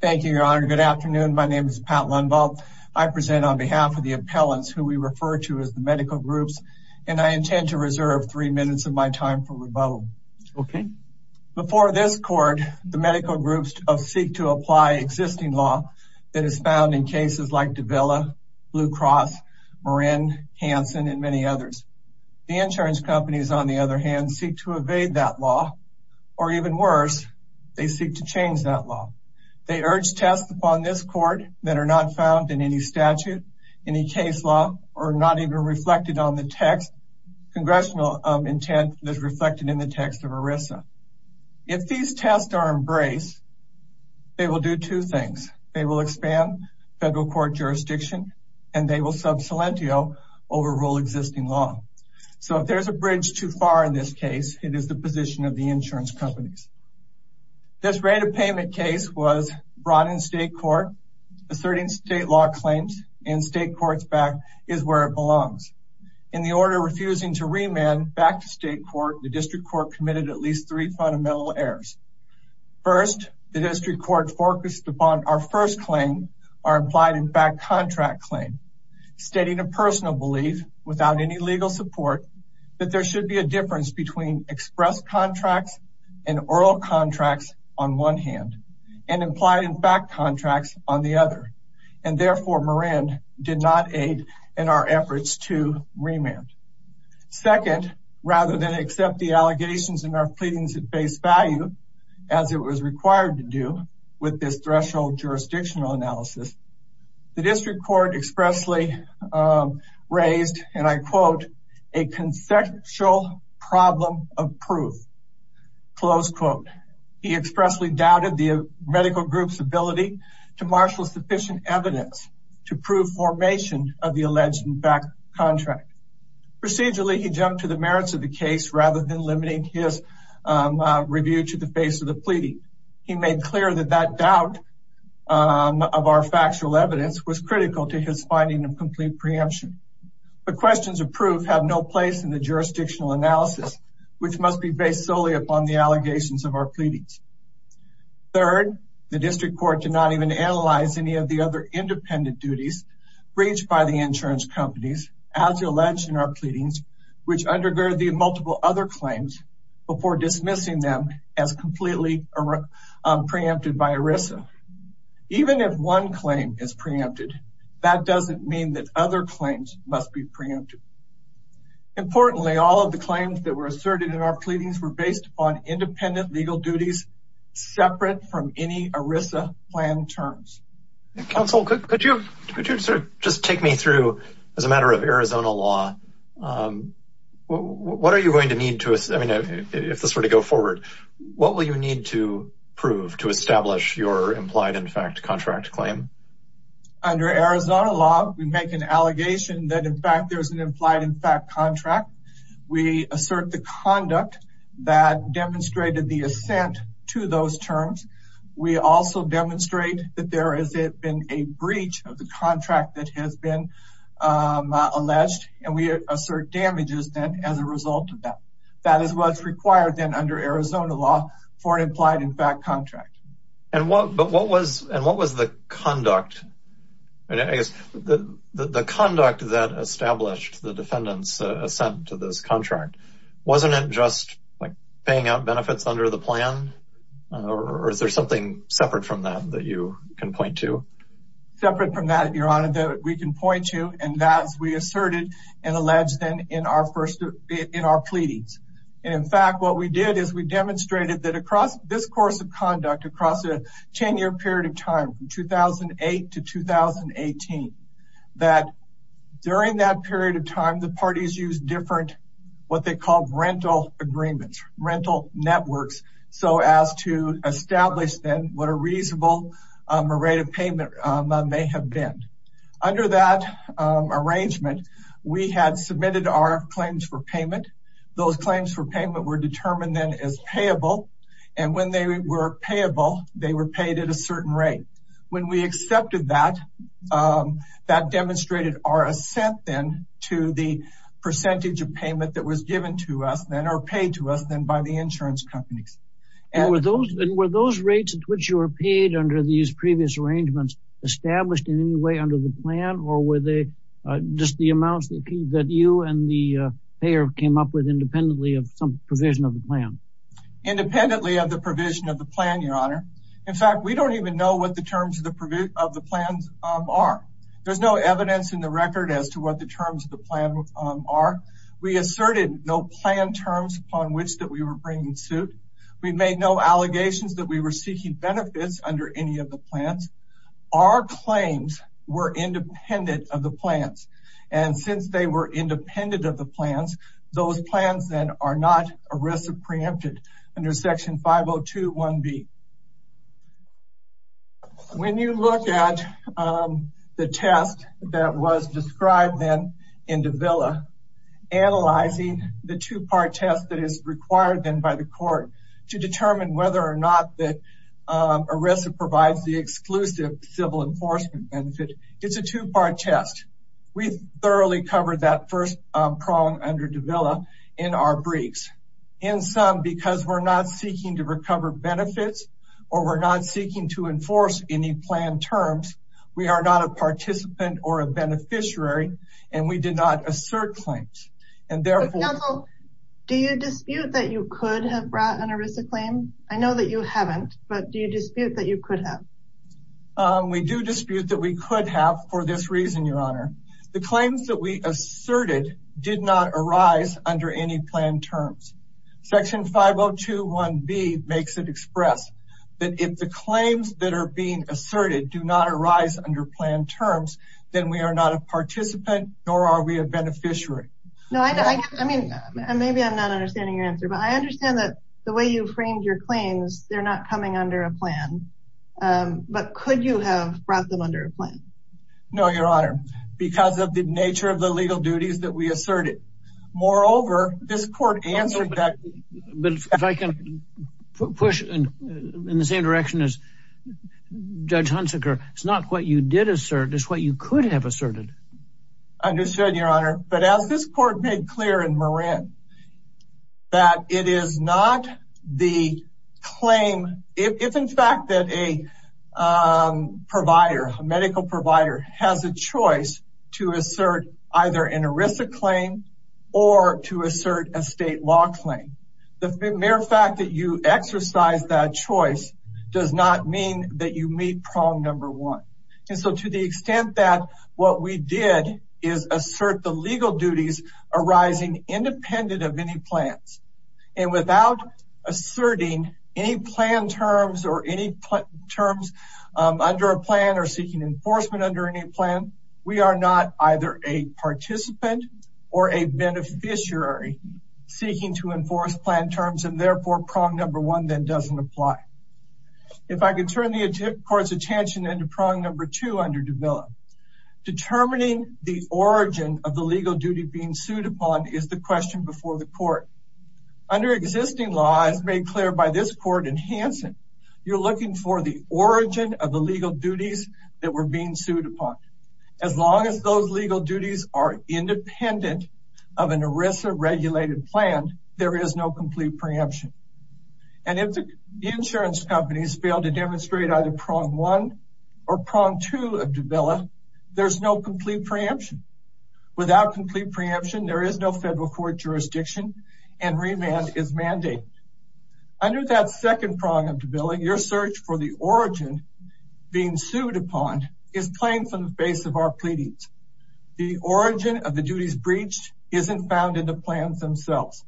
Thank you, Your Honor. Good afternoon. My name is Pat Lundvall. I present on behalf of the appellants who we refer to as the medical groups, and I intend to reserve three minutes of my time for rebuttal. Okay. Before this court, the medical groups seek to apply existing law that is found in cases like Davila, Blue Cross, Marin, Hanson, and many others. The insurance companies, on the other hand, seek to evade that law, or even worse, they seek to change that law. They urge tests upon this court that are not found in any statute, any case law, or not even reflected on the text. Congressional intent is reflected in the text of ERISA. If these tests are embraced, they will do two things. They will expand federal court jurisdiction, and they will sub silentio over rule existing law. So if there's a bridge too far in this case, it is the position of the insurance companies. This rate of payment case was brought in state court, asserting state law claims, and state courts back is where it belongs. In the order refusing to remand back to state court, the district court committed at least three fundamental errors. First, the district court focused upon our first claim, our implied and back contract claim, stating a personal belief, without any legal support, that there should be a difference between express contracts and oral contracts on one hand, and implied and back contracts on the other. And therefore, Marin did not aid in our efforts to remand. Second, rather than accept the allegations in our pleadings at face value, as it was required to do with this threshold jurisdictional analysis, the district court expressly raised, and I quote, a conceptual problem of proof. He expressly doubted the medical group's ability to marshal sufficient evidence to prove formation of the alleged and back contract. Procedurally, he jumped to the merits of the case rather than critical to his finding of complete preemption. But questions of proof have no place in the jurisdictional analysis, which must be based solely upon the allegations of our pleadings. Third, the district court did not even analyze any of the other independent duties breached by the insurance companies, as alleged in our pleadings, which undergird the multiple other claims before dismissing them as completely preempted by ERISA. Even if one claim is preempted, that doesn't mean that other claims must be preempted. Importantly, all of the claims that were asserted in our pleadings were based on independent legal duties separate from any ERISA plan terms. Counsel, could you just take me through, as a matter of Arizona law, what are you going to need to, I mean, if this were to go forward, what will you need to prove to establish your implied in fact contract claim? Under Arizona law, we make an allegation that, in fact, there's an implied in fact contract. We assert the conduct that demonstrated the assent to those terms. We also demonstrate that there has been a breach of the contract that has been alleged, and we assert damages then as a result of that. That is what's required then under Arizona law for an implied in fact contract. And what was the conduct, I guess, the conduct that established the defendant's assent to this contract? Wasn't it just like paying out benefits under the plan? Or is there something separate from that that you can point to? Separate from that, your honor, that we can point to, and that's we asserted and alleged then in our first, in our pleadings. In fact, what we did is we demonstrated that across this course of conduct, across a 10-year period of time, from 2008 to 2018, that during that period of time, the parties used different, what they called rental agreements, rental networks, so as to establish then what a reasonable rate of payment may have been. Under that arrangement, we had submitted our claims for payment. Those claims for payment were determined then as payable, and when they were payable, they were paid at a certain rate. When we accepted that, that demonstrated our assent then to the percentage of payment that was given to us or paid to us then by the insurance companies. And were those rates at which you were paid under these previous arrangements established in any way under the plan, or were they just the amounts that you and the payer came up with independently of some provision of the plan? Independently of the provision of the plan, your honor. In fact, we don't even know what the terms of the plans are. There's no evidence in the record as to what the terms of the plan are. We asserted no plan terms upon which that we were bringing suit. We made no allegations that we were seeking benefits under any of the plans. Our claims were independent of the plans, and since they were independent of the plans, those plans then are not arrested preempted under section 5021B. When you look at the test that was described then in Davila, analyzing the two-part test that is required then by the court to determine whether or not the arrestor provides the exclusive civil enforcement benefit, it's a two-part test. We've thoroughly covered that first prong under Davila in our briefs. In sum, because we're not seeking to recover benefits, or we're not seeking to enforce any plan terms, we are not a participant or a beneficiary, and we did not assert claims. Do you dispute that you could have brought an arrestor claim? I know that you haven't, but do you dispute that you could have? We do dispute that we could have for this reason, your honor. The claims that we asserted did not make it express that if the claims that are being asserted do not arise under plan terms, then we are not a participant, nor are we a beneficiary. Maybe I'm not understanding your answer, but I understand that the way you framed your claims, they're not coming under a plan, but could you have brought them under a plan? No, your honor, because of the nature of the legal duties that we asserted. Moreover, this court answered that. But if I can push in the same direction as Judge Hunsaker, it's not what you did assert, it's what you could have asserted. Understood, your honor. But as this court made clear in Moran, that it is not the claim, if in fact that a provider, a medical provider has a choice to assert either an arrestor claim or to assert a state law claim. The mere fact that you exercise that choice does not mean that you meet prong number one. And so to the extent that what we did is assert the legal duties arising independent of any plans and without asserting any plan terms or any terms under a plan or seeking enforcement under any plan, we are not either a participant or a beneficiary seeking to enforce plan terms and therefore prong number one then doesn't apply. If I could turn the court's attention into prong number two under Davila. Determining the origin of the legal duty being sued upon is the question before the court. Under existing laws made clear by this court in Hanson, you're looking for the origin of the legal duties that were being sued upon. As long as those legal duties are independent of an arrestor regulated plan, there is no complete preemption. And if the insurance companies fail to demonstrate either prong one or prong two of Davila, there's no complete preemption. Without complete preemption, there is no federal court jurisdiction and remand is mandated. Under that second prong of Davila, your search for the origin being sued upon is claimed from the base of our pleadings. The origin of the duties breached isn't found in the plans themselves.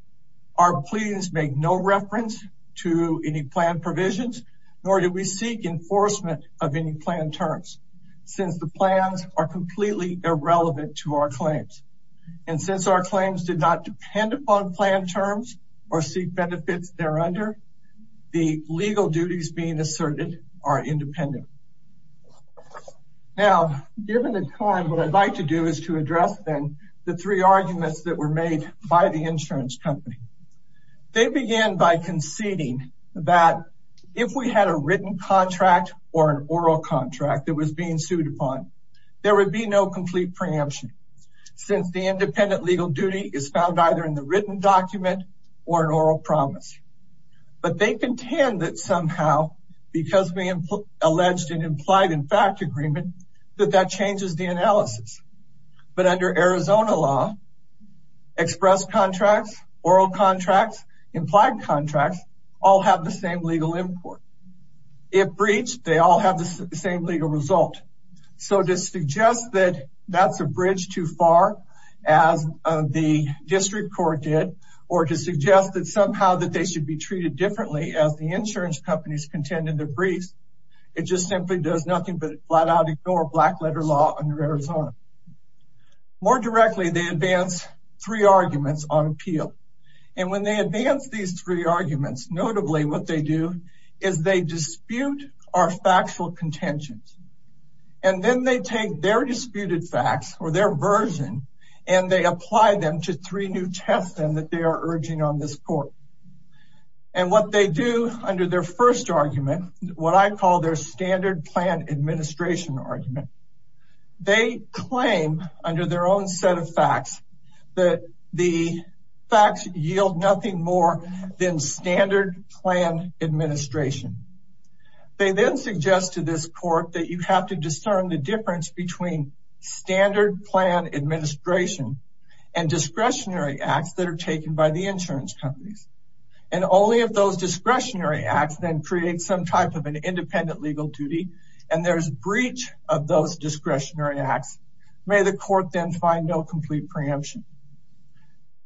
Our pleadings make no reference to any plan provisions nor do we seek enforcement of any plan terms since the plans are completely irrelevant to our claims. And since our claims did not depend upon plan terms or seek benefits there under, the legal duties being asserted are independent. Now, given the time, what I'd like to do is to address then the three arguments that were made by the insurance company. They began by conceding that if we had a written contract or an oral contract that was being sued upon, there would be no complete preemption since the independent legal duty is found either in the written document or an oral promise. But they contend that somehow, because we alleged an implied in fact agreement, that that changes the analysis. But under Arizona law, express contracts, oral contracts, implied contracts, all have the same legal import. If breached, they all have the same legal result. So to suggest that that's a bridge too far, as the district court did, or to suggest that somehow that they should be treated differently as the insurance companies contend in their briefs, it just simply does nothing but flat out ignore black letter law under Arizona. More directly, they advance three arguments on appeal. And when they advance these three arguments, notably what they do is they dispute our factual contentions. And then they take their disputed facts or their version, and they apply them to three new tests and that they are urging on this court. And what they do under their first argument, what I call their standard plan administration argument, they claim under their own set of facts, that the facts yield nothing more than standard plan administration. They then suggest to this court that you have to discern the difference between standard plan administration and discretionary acts that are taken by the insurance companies. And only if those discretionary acts then create some type of an independent legal duty, and there's breach of those discretionary acts, may the court then find no complete preemption.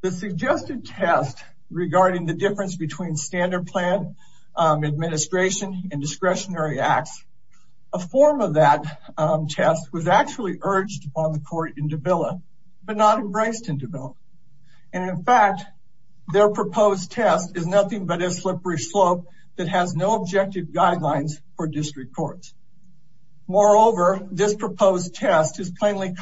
The suggested test regarding the difference between standard plan administration and discretionary acts, a form of that test was actually urged on the court in Dabila, but not embraced in Dabila. And in fact, their proposed test is nothing but a slippery slope that has no objective guidelines for district courts. Moreover, this proposed test is plainly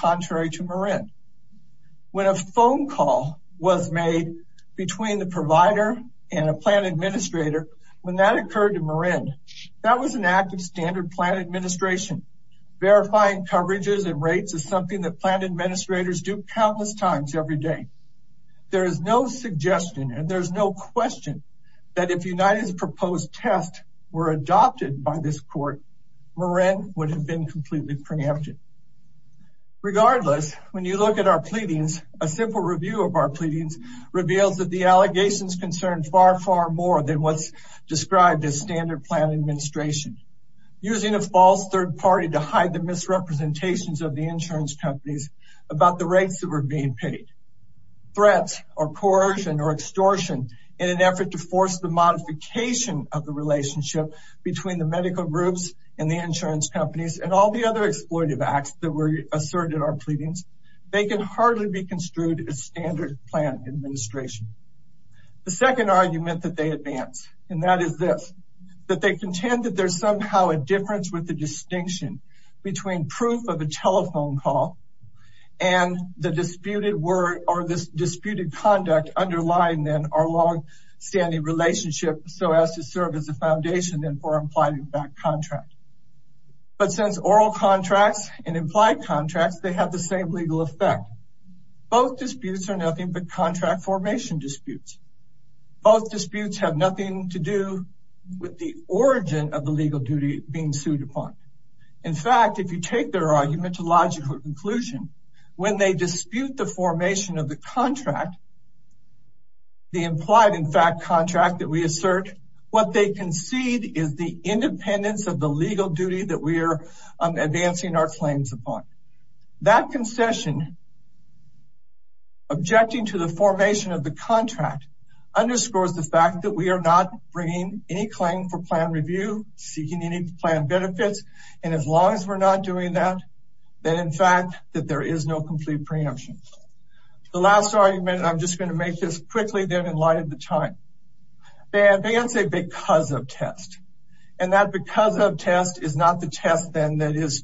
When a phone call was made between the provider and a plan administrator, when that occurred to Marin, that was an act of standard plan administration. Verifying coverages and rates is something that plan administrators do countless times every day. There is no suggestion and there's no question that if United's proposed test were adopted by this court, Marin would have completely preempted. Regardless, when you look at our pleadings, a simple review of our pleadings reveals that the allegations concern far, far more than what's described as standard plan administration. Using a false third party to hide the misrepresentations of the insurance companies about the rates that were being paid. Threats or coercion or extortion in an effort to force the modification of the relationship between the medical groups and the insurance companies and all the other exploitive acts that were asserted in our pleadings, they can hardly be construed as standard plan administration. The second argument that they advance, and that is this, that they contend that there's somehow a difference with the distinction between proof of a telephone call and the disputed word or this disputed conduct underlying then our long-standing relationship so as to serve as a foundation then for implied contract. But since oral contracts and implied contracts, they have the same legal effect. Both disputes are nothing but contract formation disputes. Both disputes have nothing to do with the origin of the legal duty being sued upon. In fact, if you take their argument to logical conclusion, when they dispute the assert, what they concede is the independence of the legal duty that we are advancing our claims upon. That concession objecting to the formation of the contract underscores the fact that we are not bringing any claim for plan review, seeking any plan benefits, and as long as we're not doing that, then in fact that there is no complete preemption. The last argument, and I'm just going to make this quickly then in light of the time, they advance it because of test, and that because of test is not the test then that is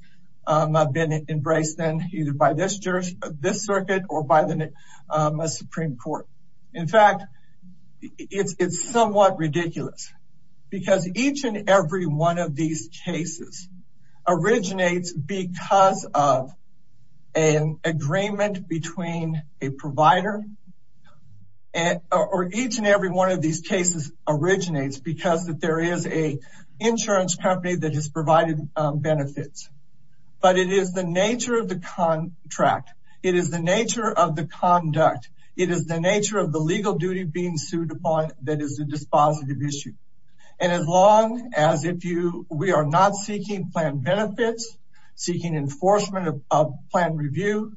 been embraced then either by this circuit or by the Supreme Court. In fact, it's somewhat ridiculous because each and every one of these cases originates because of an agreement between a provider, or each and every one of these cases originates because that there is a insurance company that has provided benefits, but it is the nature of the contract. It is the nature of the conduct. It is the nature of the legal duty being sued upon that is a dispositive issue, and as long as we are not seeking plan benefits, seeking enforcement of plan review,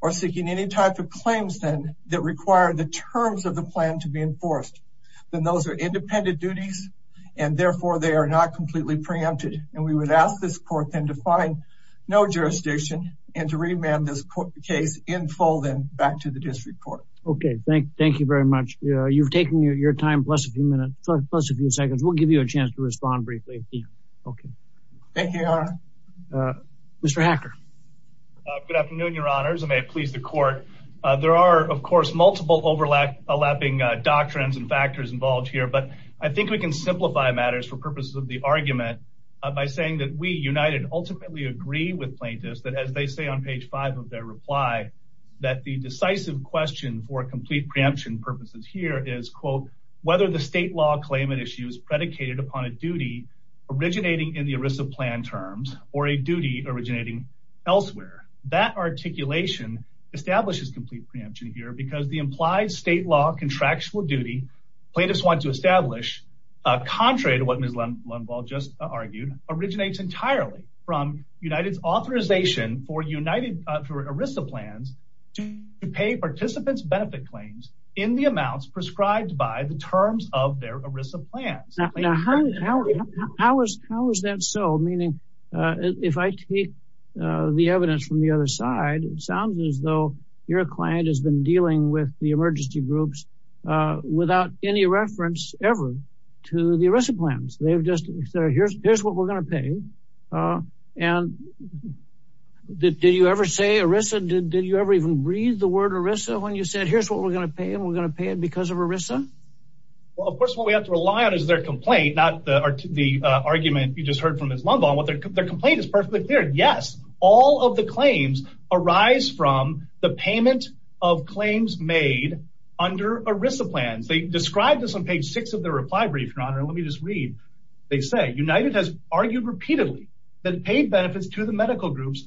or seeking any type of claims then that require the terms of the plan to be enforced, then those are independent duties, and therefore they are not completely preempted, and we would ask this court then to find no jurisdiction and to remand this case in full then back to the district court. Okay, thank you very much. You've taken your time plus a few minutes, plus a few Good afternoon, your honors. I may please the court. There are, of course, multiple overlapping doctrines and factors involved here, but I think we can simplify matters for purposes of the argument by saying that we, United, ultimately agree with plaintiffs that as they say on page five of their reply that the decisive question for complete preemption purposes here is, quote, whether the state law claimant issue is predicated upon a duty originating in the ERISA plan terms or a duty originating elsewhere. That articulation establishes complete preemption here because the implied state law contractual duty plaintiffs want to establish, contrary to what Ms. Lundwall just argued, originates entirely from United's authorization for United, for ERISA plans to pay participants benefit claims in the amounts prescribed by the terms of their ERISA plans. Now, how is that so? Meaning, if I take the evidence from the other side, it sounds as though your client has been dealing with the emergency groups without any reference ever to the ERISA plans. They've just said, here's what we're going to pay. And did you ever say ERISA? Did you ever even read the word ERISA when you said, here's what we're going to pay and we're Well, of course, what we have to rely on is their complaint, not the argument you just heard from Ms. Lundwall. Their complaint is perfectly clear. Yes, all of the claims arise from the payment of claims made under ERISA plans. They described this on page six of their reply brief, Your Honor. Let me just read. They say, United has argued repeatedly that it paid benefits to the medical groups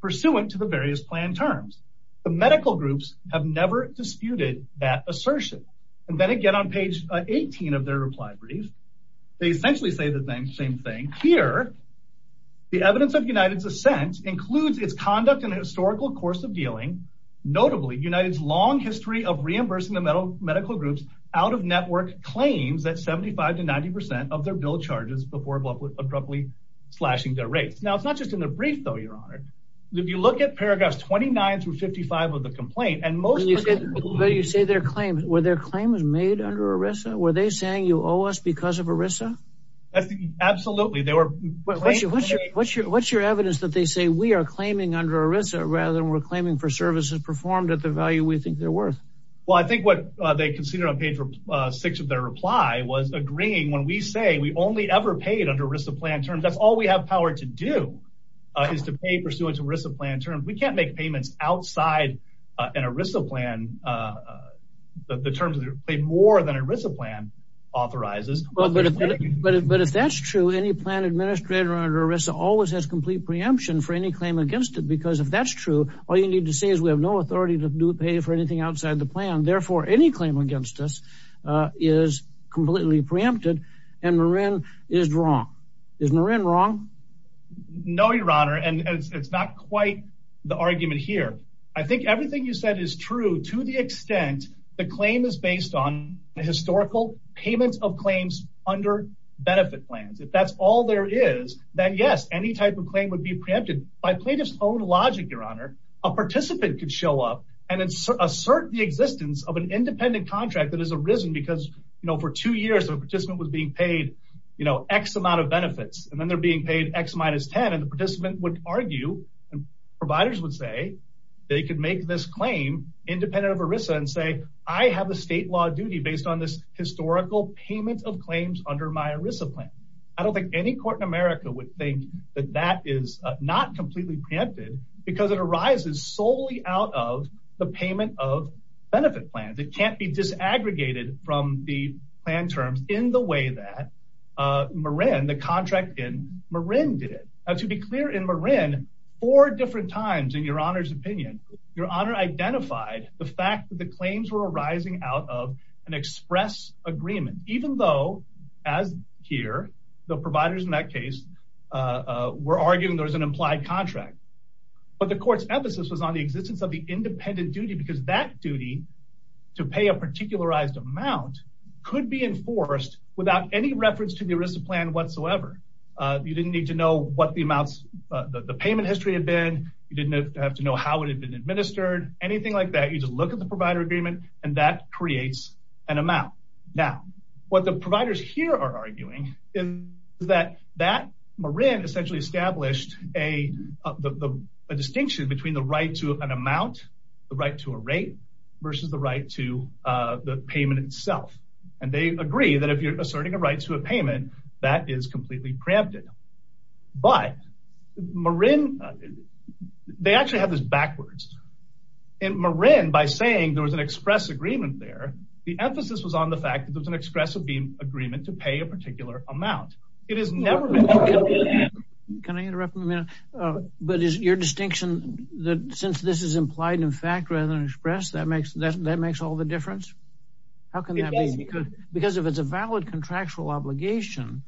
pursuant to the various plan terms. The medical groups have never disputed that assertion. And then again, on page 18 of their reply brief, they essentially say the same thing. Here, the evidence of United's assent includes its conduct in a historical course of dealing. Notably, United's long history of reimbursing the medical groups out of network claims at 75 to 90 percent of their bill charges before abruptly slashing their rates. Now, it's not just in the brief, though, Your Honor. If you look at paragraphs 29 through 55 of the complaint, and most of you say their claim where their claim is made under ERISA, were they saying you owe us because of ERISA? Absolutely. They were. What's your what's your what's your evidence that they say we are claiming under ERISA rather than we're claiming for services performed at the value we think they're worth? Well, I think what they consider on page six of their reply was agreeing when we say we only ever paid under ERISA plan terms. That's all we have power to do is to pay pursuant to ERISA plan terms. We can't make payments outside an ERISA plan. The terms that are paid more than ERISA plan authorizes. But if that's true, any plan administrator under ERISA always has complete preemption for any claim against it, because if that's true, all you need to say is we have no authority to pay for anything outside the plan. Therefore, any claim against us is completely preempted and Marin is wrong. Is Marin wrong? No, your honor, and it's not quite the argument here. I think everything you said is true to the extent the claim is based on historical payments of claims under benefit plans. If that's all there is, then yes, any type of claim would be preempted by plaintiff's own logic, your honor. A participant could show up and assert the existence of an independent contract that has arisen because, you know, for two years, the participant was being paid, you know, X amount of benefits, and then they're being paid X minus 10. And the participant would argue, and providers would say, they could make this claim independent of ERISA and say, I have a state law duty based on this historical payment of claims under my ERISA plan. I don't think any court in America would think that that is not completely preempted, because it arises solely out of the payment of benefit plans. It can't be disaggregated from the plan terms in the way that Marin, the contract in Marin did it. To be clear, in Marin, four different times in your honor's opinion, your honor identified the fact that the claims were arising out of an express agreement, even though, as here, the providers in that case, were arguing there was an implied contract. But the court's emphasis was on the existence of the independent duty, because that duty to pay a particularized amount could be enforced without any reference to the ERISA plan whatsoever. You didn't need to know what the amounts, the payment history had been, you didn't have to know how it had been administered, anything like that, you just look at the provider agreement, and that creates an amount. Now, what the providers here are arguing is that Marin essentially established a distinction between the right to an amount, the right to a rate, versus the right to the payment itself. And they agree that if you're asserting a right to a payment, that is completely preempted. But Marin, they actually have this backwards. In Marin, by saying there was an express agreement there, the emphasis was on the fact that there was an expressive agreement to pay a particular amount. It has never been. Can I interrupt for a minute? But is your distinction that since this is implied in fact rather than expressed, that makes all the difference? How can that be? Because if it's a valid contractual obligation,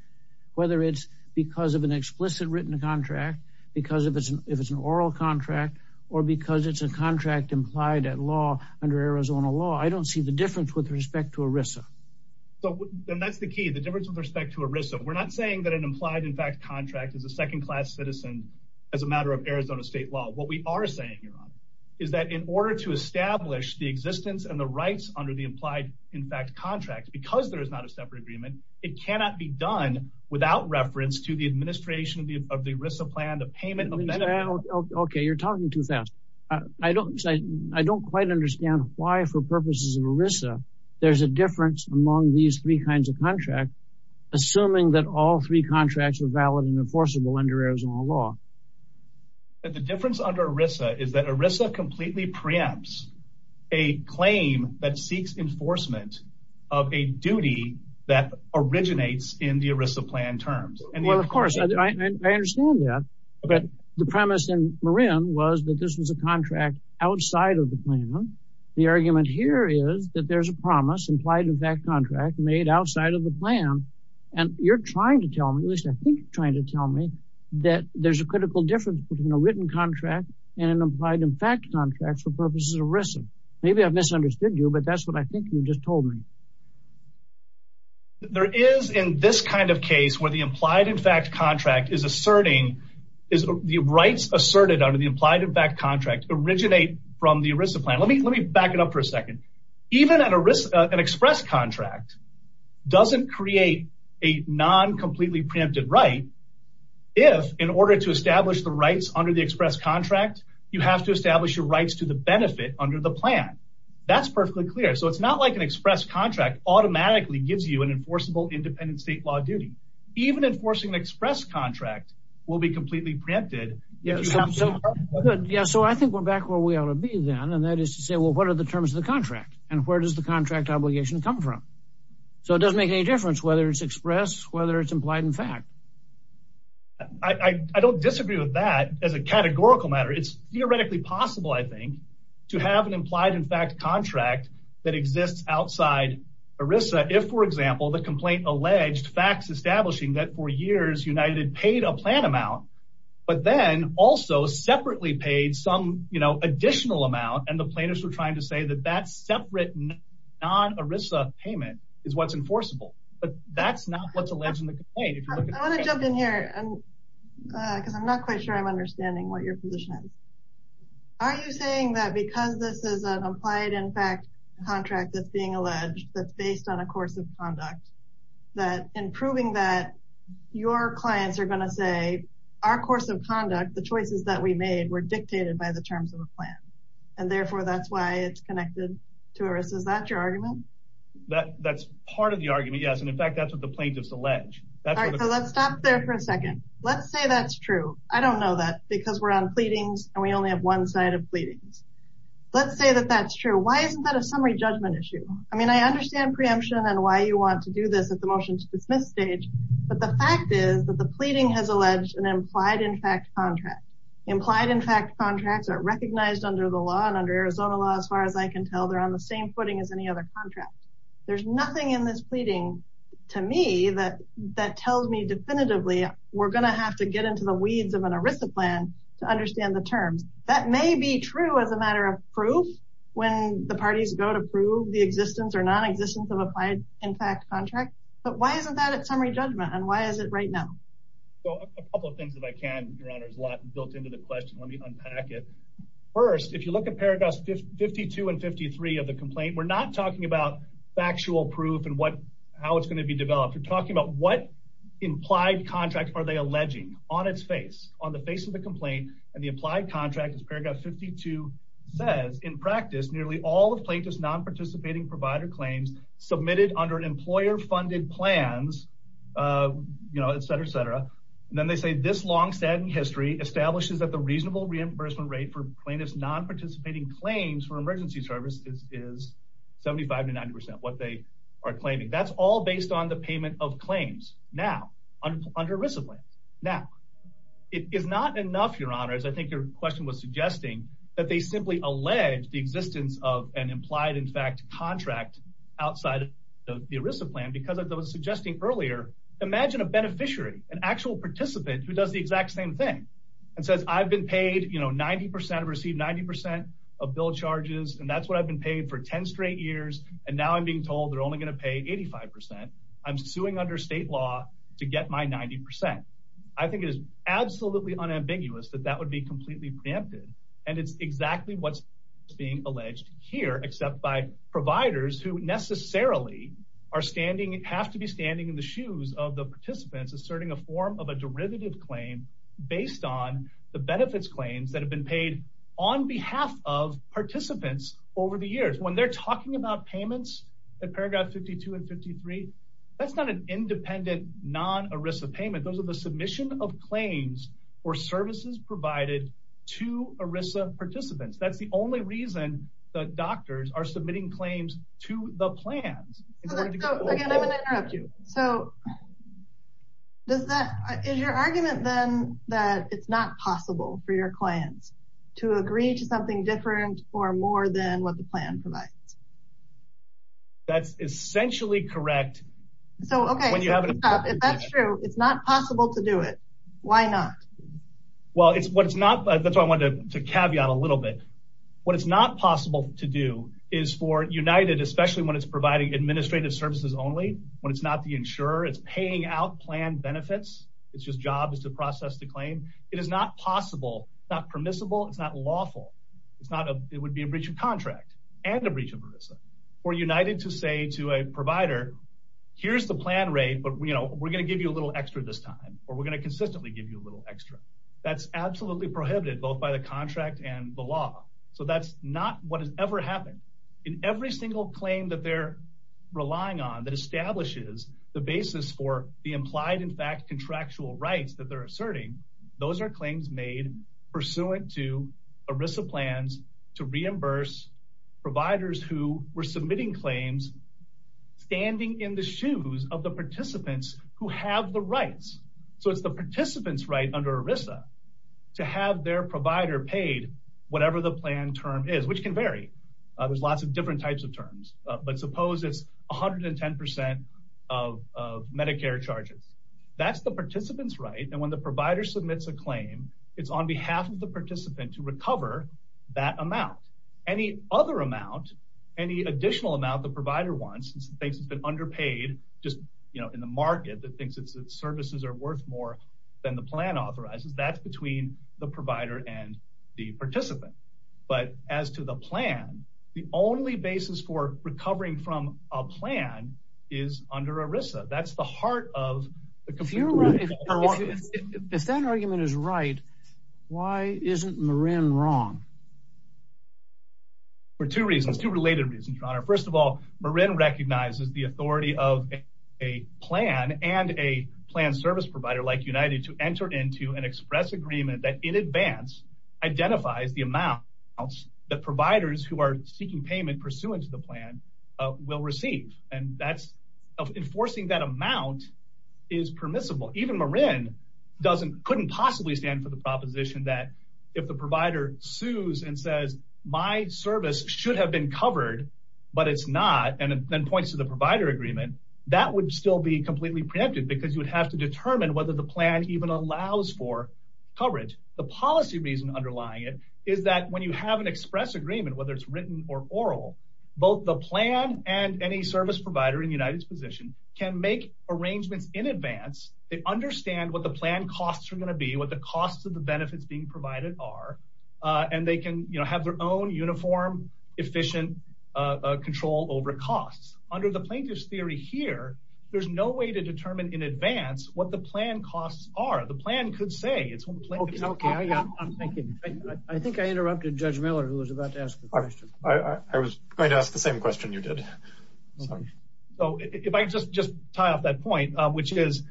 whether it's because of an explicit written contract, because if it's an oral contract, or because it's a contract implied at law under Arizona law, I don't see the difference with respect to ERISA. And that's the key, the difference with respect to ERISA. We're not saying that an implied in fact contract is a second class citizen as a matter of Arizona state law. What we are saying, Your Honor, is that in order to establish the existence and the rights under the implied in fact contract, because there is not a separate agreement, it cannot be done without reference to the administration of the ERISA plan, the payment of benefit. Okay, you're talking too fast. I don't quite understand why for purposes of ERISA, there's a difference among these three kinds of contracts, assuming that all three contracts are valid and enforceable under Arizona law. The difference under ERISA is that ERISA completely preempts a claim that seeks enforcement of a duty that originates in the ERISA plan terms. Well, of course, I understand that. But the premise in Marin was that this was a contract outside of the plan. The argument here is that there's a promise, implied in fact contract, made outside of the plan. And you're trying to tell me, at least I think you're trying to tell me that there's a critical difference between a written contract and an implied in fact contract for purposes of ERISA. Maybe I've misunderstood you, but that's what I think you just told me. There is in this kind of case where the implied in fact contract is asserting, is the rights asserted under the implied in fact contract originate from the ERISA plan. Let me back it up for a second. Even an ERISA, an express contract doesn't create a non-completely preempted right. If in order to establish the rights under the express contract, you have to establish your rights to the benefit under the plan. That's perfectly clear. So it's not like an express contract automatically gives you an enforceable independent state law duty. Even enforcing an express contract will be completely preempted. Yeah, so I think we're back where we ought to be then. And that is to say, well, what are the terms of the contract and where does the contract obligation come from? So it doesn't make any difference whether it's express, whether it's implied in fact. I don't disagree with that as a categorical matter. It's theoretically possible, I think, to have an implied in fact contract that exists outside ERISA. If, for example, the complaint alleged facts establishing that for years United had paid a plan amount, but then also separately paid some additional amount. And the plaintiffs were trying to say that that separate non-ERISA payment is what's enforceable. But that's not what's alleged in the complaint. I want to jump in here, because I'm not quite sure I'm understanding what your position is. Are you saying that because this is an implied in fact contract that's being alleged, that's based on a course of conduct, that in proving that your clients are going to say, our course of conduct, the choices that we made were dictated by the terms of a plan, and therefore that's why it's connected to ERISA? Is that your argument? That's part of the argument, yes. And in fact, that's what the plaintiffs allege. All right, so let's stop there for a second. Let's say that's true. I don't know that, because we're on pleadings and we only have one side of pleadings. Let's say that that's true. Why isn't that a summary judgment issue? I mean, I understand preemption and why you want to do this at the motion to dismiss stage, but the fact is that the pleading has alleged an implied in fact contract. Implied in fact contracts are recognized under the law and under Arizona law, as far as I can tell, they're on the same footing as any other contract. There's nothing in this pleading to me that tells me definitively we're going to have to get into the weeds of an ERISA plan to understand the terms. That may be true as a matter of proof when the parties go to prove the existence or non-existence of a implied in fact contract, but why isn't that a summary judgment and why is it right now? So a couple of things, if I can, Your Honor, is a lot built into the question. Let me unpack it. First, if you look at paragraphs 52 and 53 of the complaint, we're not talking about factual proof and how it's going to be developed. We're talking about what implied contract are they alleging on its face, on the face of the complaint, and the implied contract as paragraph 52 says, in practice, nearly all of plaintiff's non-participating provider claims submitted under employer-funded plans, you know, etc., etc., and then they say this long standing history establishes that the reasonable reimbursement rate for plaintiff's non-participating claims for emergency services is 75 to 90 percent what they are claiming. That's all based on the ERISA plan. Now, it is not enough, Your Honor, as I think your question was suggesting, that they simply allege the existence of an implied in fact contract outside of the ERISA plan because as I was suggesting earlier, imagine a beneficiary, an actual participant who does the exact same thing and says I've been paid, you know, 90 percent, received 90 percent of bill charges and that's what I've been paid for 10 straight years and now I'm being told they're only going to pay 85 percent. I'm suing under state law to get my 90 percent. I think it is absolutely unambiguous that that would be completely preempted and it's exactly what's being alleged here except by providers who necessarily are standing, have to be standing in the shoes of the participants asserting a form of a derivative claim based on the benefits claims that have been paid on behalf of participants over the years. When they're talking about payments at paragraph 52 and 53, that's not an independent non-ERISA payment. Those are the submission of claims or services provided to ERISA participants. That's the only reason the doctors are submitting claims to the plans. Again, I'm going to interrupt you. So, is your argument then that it's not possible for your what the plan provides? That's essentially correct. So, okay, if that's true, it's not possible to do it. Why not? Well, it's what it's not. That's why I wanted to caveat a little bit. What it's not possible to do is for United, especially when it's providing administrative services only, when it's not the insurer, it's paying out plan benefits. It's just jobs to process the claim. It is not possible, not permissible, it's not lawful. It's not, it would be a breach of contract and a breach of ERISA. For United to say to a provider, here's the plan rate, but, you know, we're going to give you a little extra this time, or we're going to consistently give you a little extra. That's absolutely prohibited, both by the contract and the law. So that's not what has ever happened. In every single claim that they're relying on that establishes the basis for the implied, in fact, contractual rights that they're asserting, those are claims made pursuant to ERISA plans to reimburse providers who were submitting claims standing in the shoes of the participants who have the rights. So it's the participant's right under ERISA to have their provider paid whatever the plan term is, which can vary. There's lots of different types of terms, but suppose it's 110% of Medicare charges. That's the participant's right, and when the provider submits a claim, it's on behalf of the participant to recover that amount. Any other amount, any additional amount the provider wants, since the thing's been underpaid, just, you know, in the market that thinks its services are worth more than the plan authorizes, that's between the provider and the participant. But as to the plan, the only basis for recovering from a plan is under ERISA. That's the heart of... If that argument is right, why isn't Marin wrong? For two reasons, two related reasons, your honor. First of all, Marin recognizes the authority of a plan and a plan service provider like United to enter into an express agreement that in advance identifies the amount that providers who are seeking payment pursuant to the plan will receive, and that's enforcing that amount is permissible. Even Marin couldn't possibly stand for the proposition that if the provider sues and says, my service should have been covered, but it's not, and then points to the provider agreement, that would still be completely preempted because you have to determine whether the plan even allows for coverage. The policy reason underlying it is that when you have an express agreement, whether it's written or oral, both the plan and any service provider in United's position can make arrangements in advance, they understand what the plan costs are going to be, what the costs of the benefits being provided are, and they can, you know, have their own uniform, efficient control over costs. Under the plaintiff's theory here, there's no way to determine in advance what the plan costs are. The plan could say it's what the plan is. Okay, I'm thinking. I think I interrupted Judge Miller who was about to ask the question. I was going to ask the same question you did. Sorry. So if I could just tie off that point, which is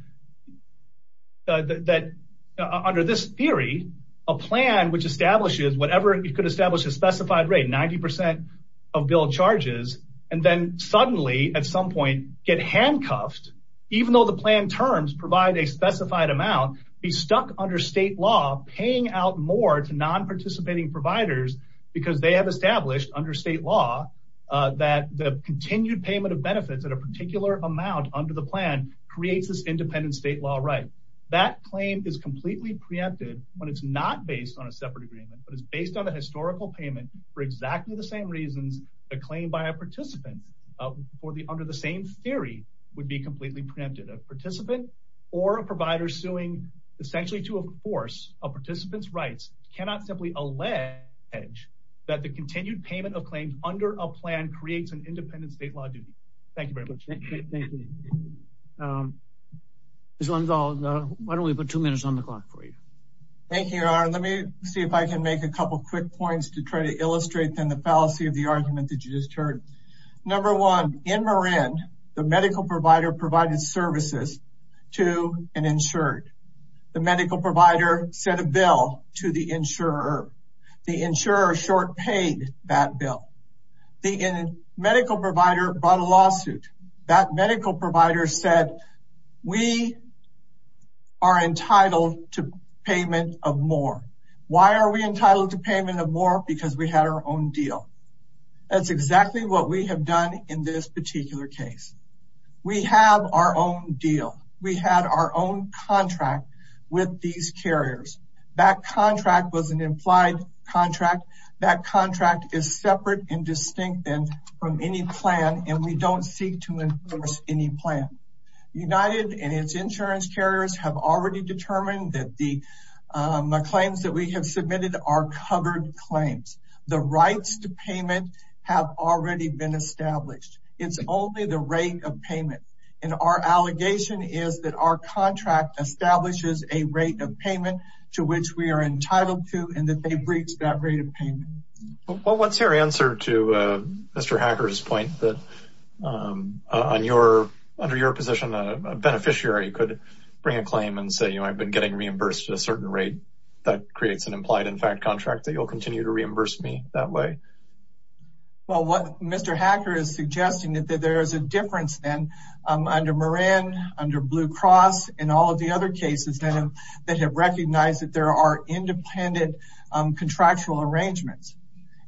that under this theory, a plan which establishes whatever it could establish a specified rate, 90% of bill charges, and then suddenly at some point get handcuffed, even though the plan terms provide a specified amount, be stuck under state law paying out more to non-participating providers because they have established under state law that the continued payment of benefits at a particular amount under the plan creates this independent state law right. That claim is completely preempted when it's not based on a separate agreement, but it's based on historical payment for exactly the same reasons a claim by a participant under the same theory would be completely preempted. A participant or a provider suing essentially to enforce a participant's rights cannot simply allege that the continued payment of claims under a plan creates an independent state law duty. Thank you very much. Thank you. Ms. Lenzol, why don't we make a couple quick points to try to illustrate the fallacy of the argument that you just heard. Number one, in Marin, the medical provider provided services to an insured. The medical provider set a bill to the insurer. The insurer short paid that bill. The medical provider brought a lawsuit. That medical provider said we are entitled to payment of more. Why are we entitled to payment of more? Because we had our own deal. That's exactly what we have done in this particular case. We have our own deal. We had our own contract with these carriers. That contract was an implied contract. That contract is separate and distinct from any plan, and we don't seek to enforce any plan. United and its insurance carriers have already determined that the claims that we have submitted are covered claims. The rights to payment have already been established. It's only the rate of payment. And our allegation is that our contract establishes a rate of payment to which we are entitled to, and that they breached that rate of payment. What's your answer to Mr. Hacker's point that on your under your position, a beneficiary could bring a claim and say, you know, I've been getting reimbursed a certain rate that creates an implied in fact contract that you'll continue to reimburse me that way. Well, what Mr. Hacker is suggesting that there is a difference under Moran, under Blue Cross, and all of the other cases that have recognized that there are independent contractual arrangements.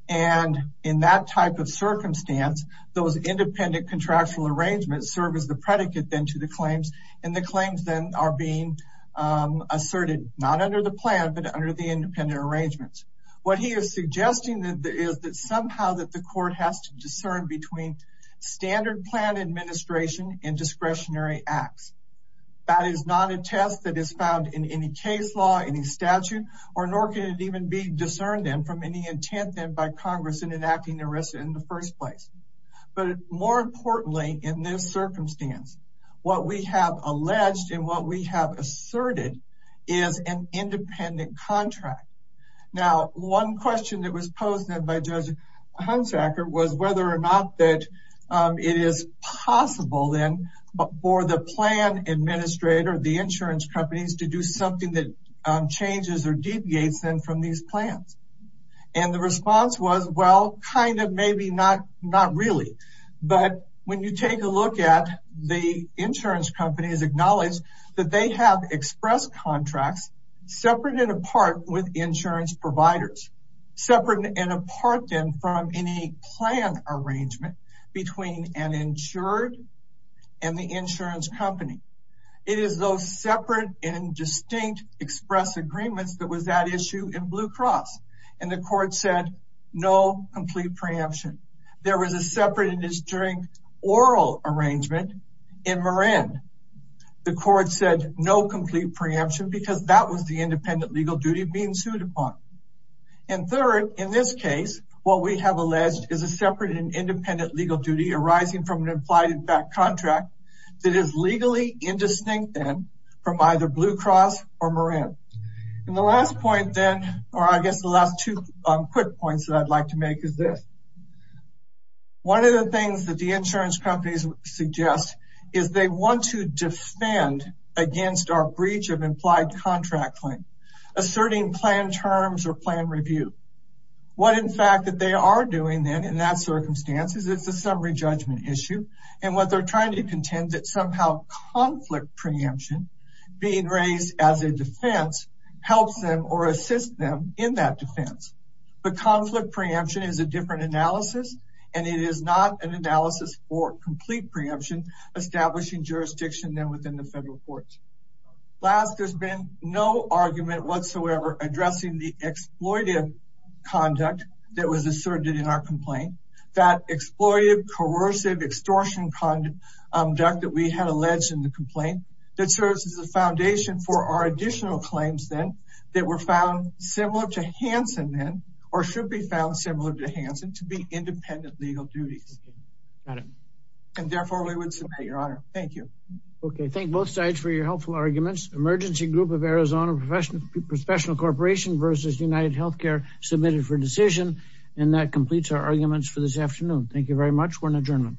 And in that type of circumstance, those independent contractual arrangements serve as the predicate then to the claims, and the claims then are being asserted not under the plan, but under the independent arrangements. What he is suggesting is that somehow that the court has to discern between standard plan administration and discretionary acts. That is not a test that is found in any case law, any statute, or nor can it even be discerned in from any intent then by Congress in enacting the rest in the first place. But more importantly, in this circumstance, what we have alleged and what we have asserted is an independent contract. Now, one question that was posed then by Judge Hunsaker was whether or not that it is possible then for the plan administrator, the insurance companies to do something that changes or deviates them from these plans. And the response was, well, kind of maybe not, not really. But when you take a look at the insurance companies acknowledge that they have expressed contracts, separate and apart with insurance providers, separate and apart then from any plan arrangement between an insured and the insurance company. It is those separate and distinct express agreements that was that issue in Blue Cross. And the court said, no complete preemption. There was a separate oral arrangement in Marin. The court said no complete preemption because that was the legal duty being sued upon. And third, in this case, what we have alleged is a separate and independent legal duty arising from an implied contract that is legally indistinct then from either Blue Cross or Marin. And the last point then, or I guess the last two quick points that I'd like to make is this. One of the things that the insurance companies suggest is they want to asserting plan terms or plan review. What in fact that they are doing then in that circumstance is it's a summary judgment issue. And what they're trying to contend that somehow conflict preemption being raised as a defense helps them or assist them in that defense. But conflict preemption is a different analysis. And it is not an analysis for complete preemption, establishing jurisdiction then within the federal courts. Last, there's been no argument whatsoever addressing the exploitive conduct that was asserted in our complaint. That exploitive, coercive extortion conduct that we had alleged in the complaint that serves as a foundation for our additional claims then that were found similar to Hanson then, or should be found similar to Hanson to be independent legal duties. And therefore, we would submit your honor. Thank you. Okay. Thank both sides for your helpful arguments. Emergency Group of Arizona Professional Corporation versus UnitedHealthcare submitted for decision. And that completes our arguments for this afternoon. Thank you very much. We're in adjournment.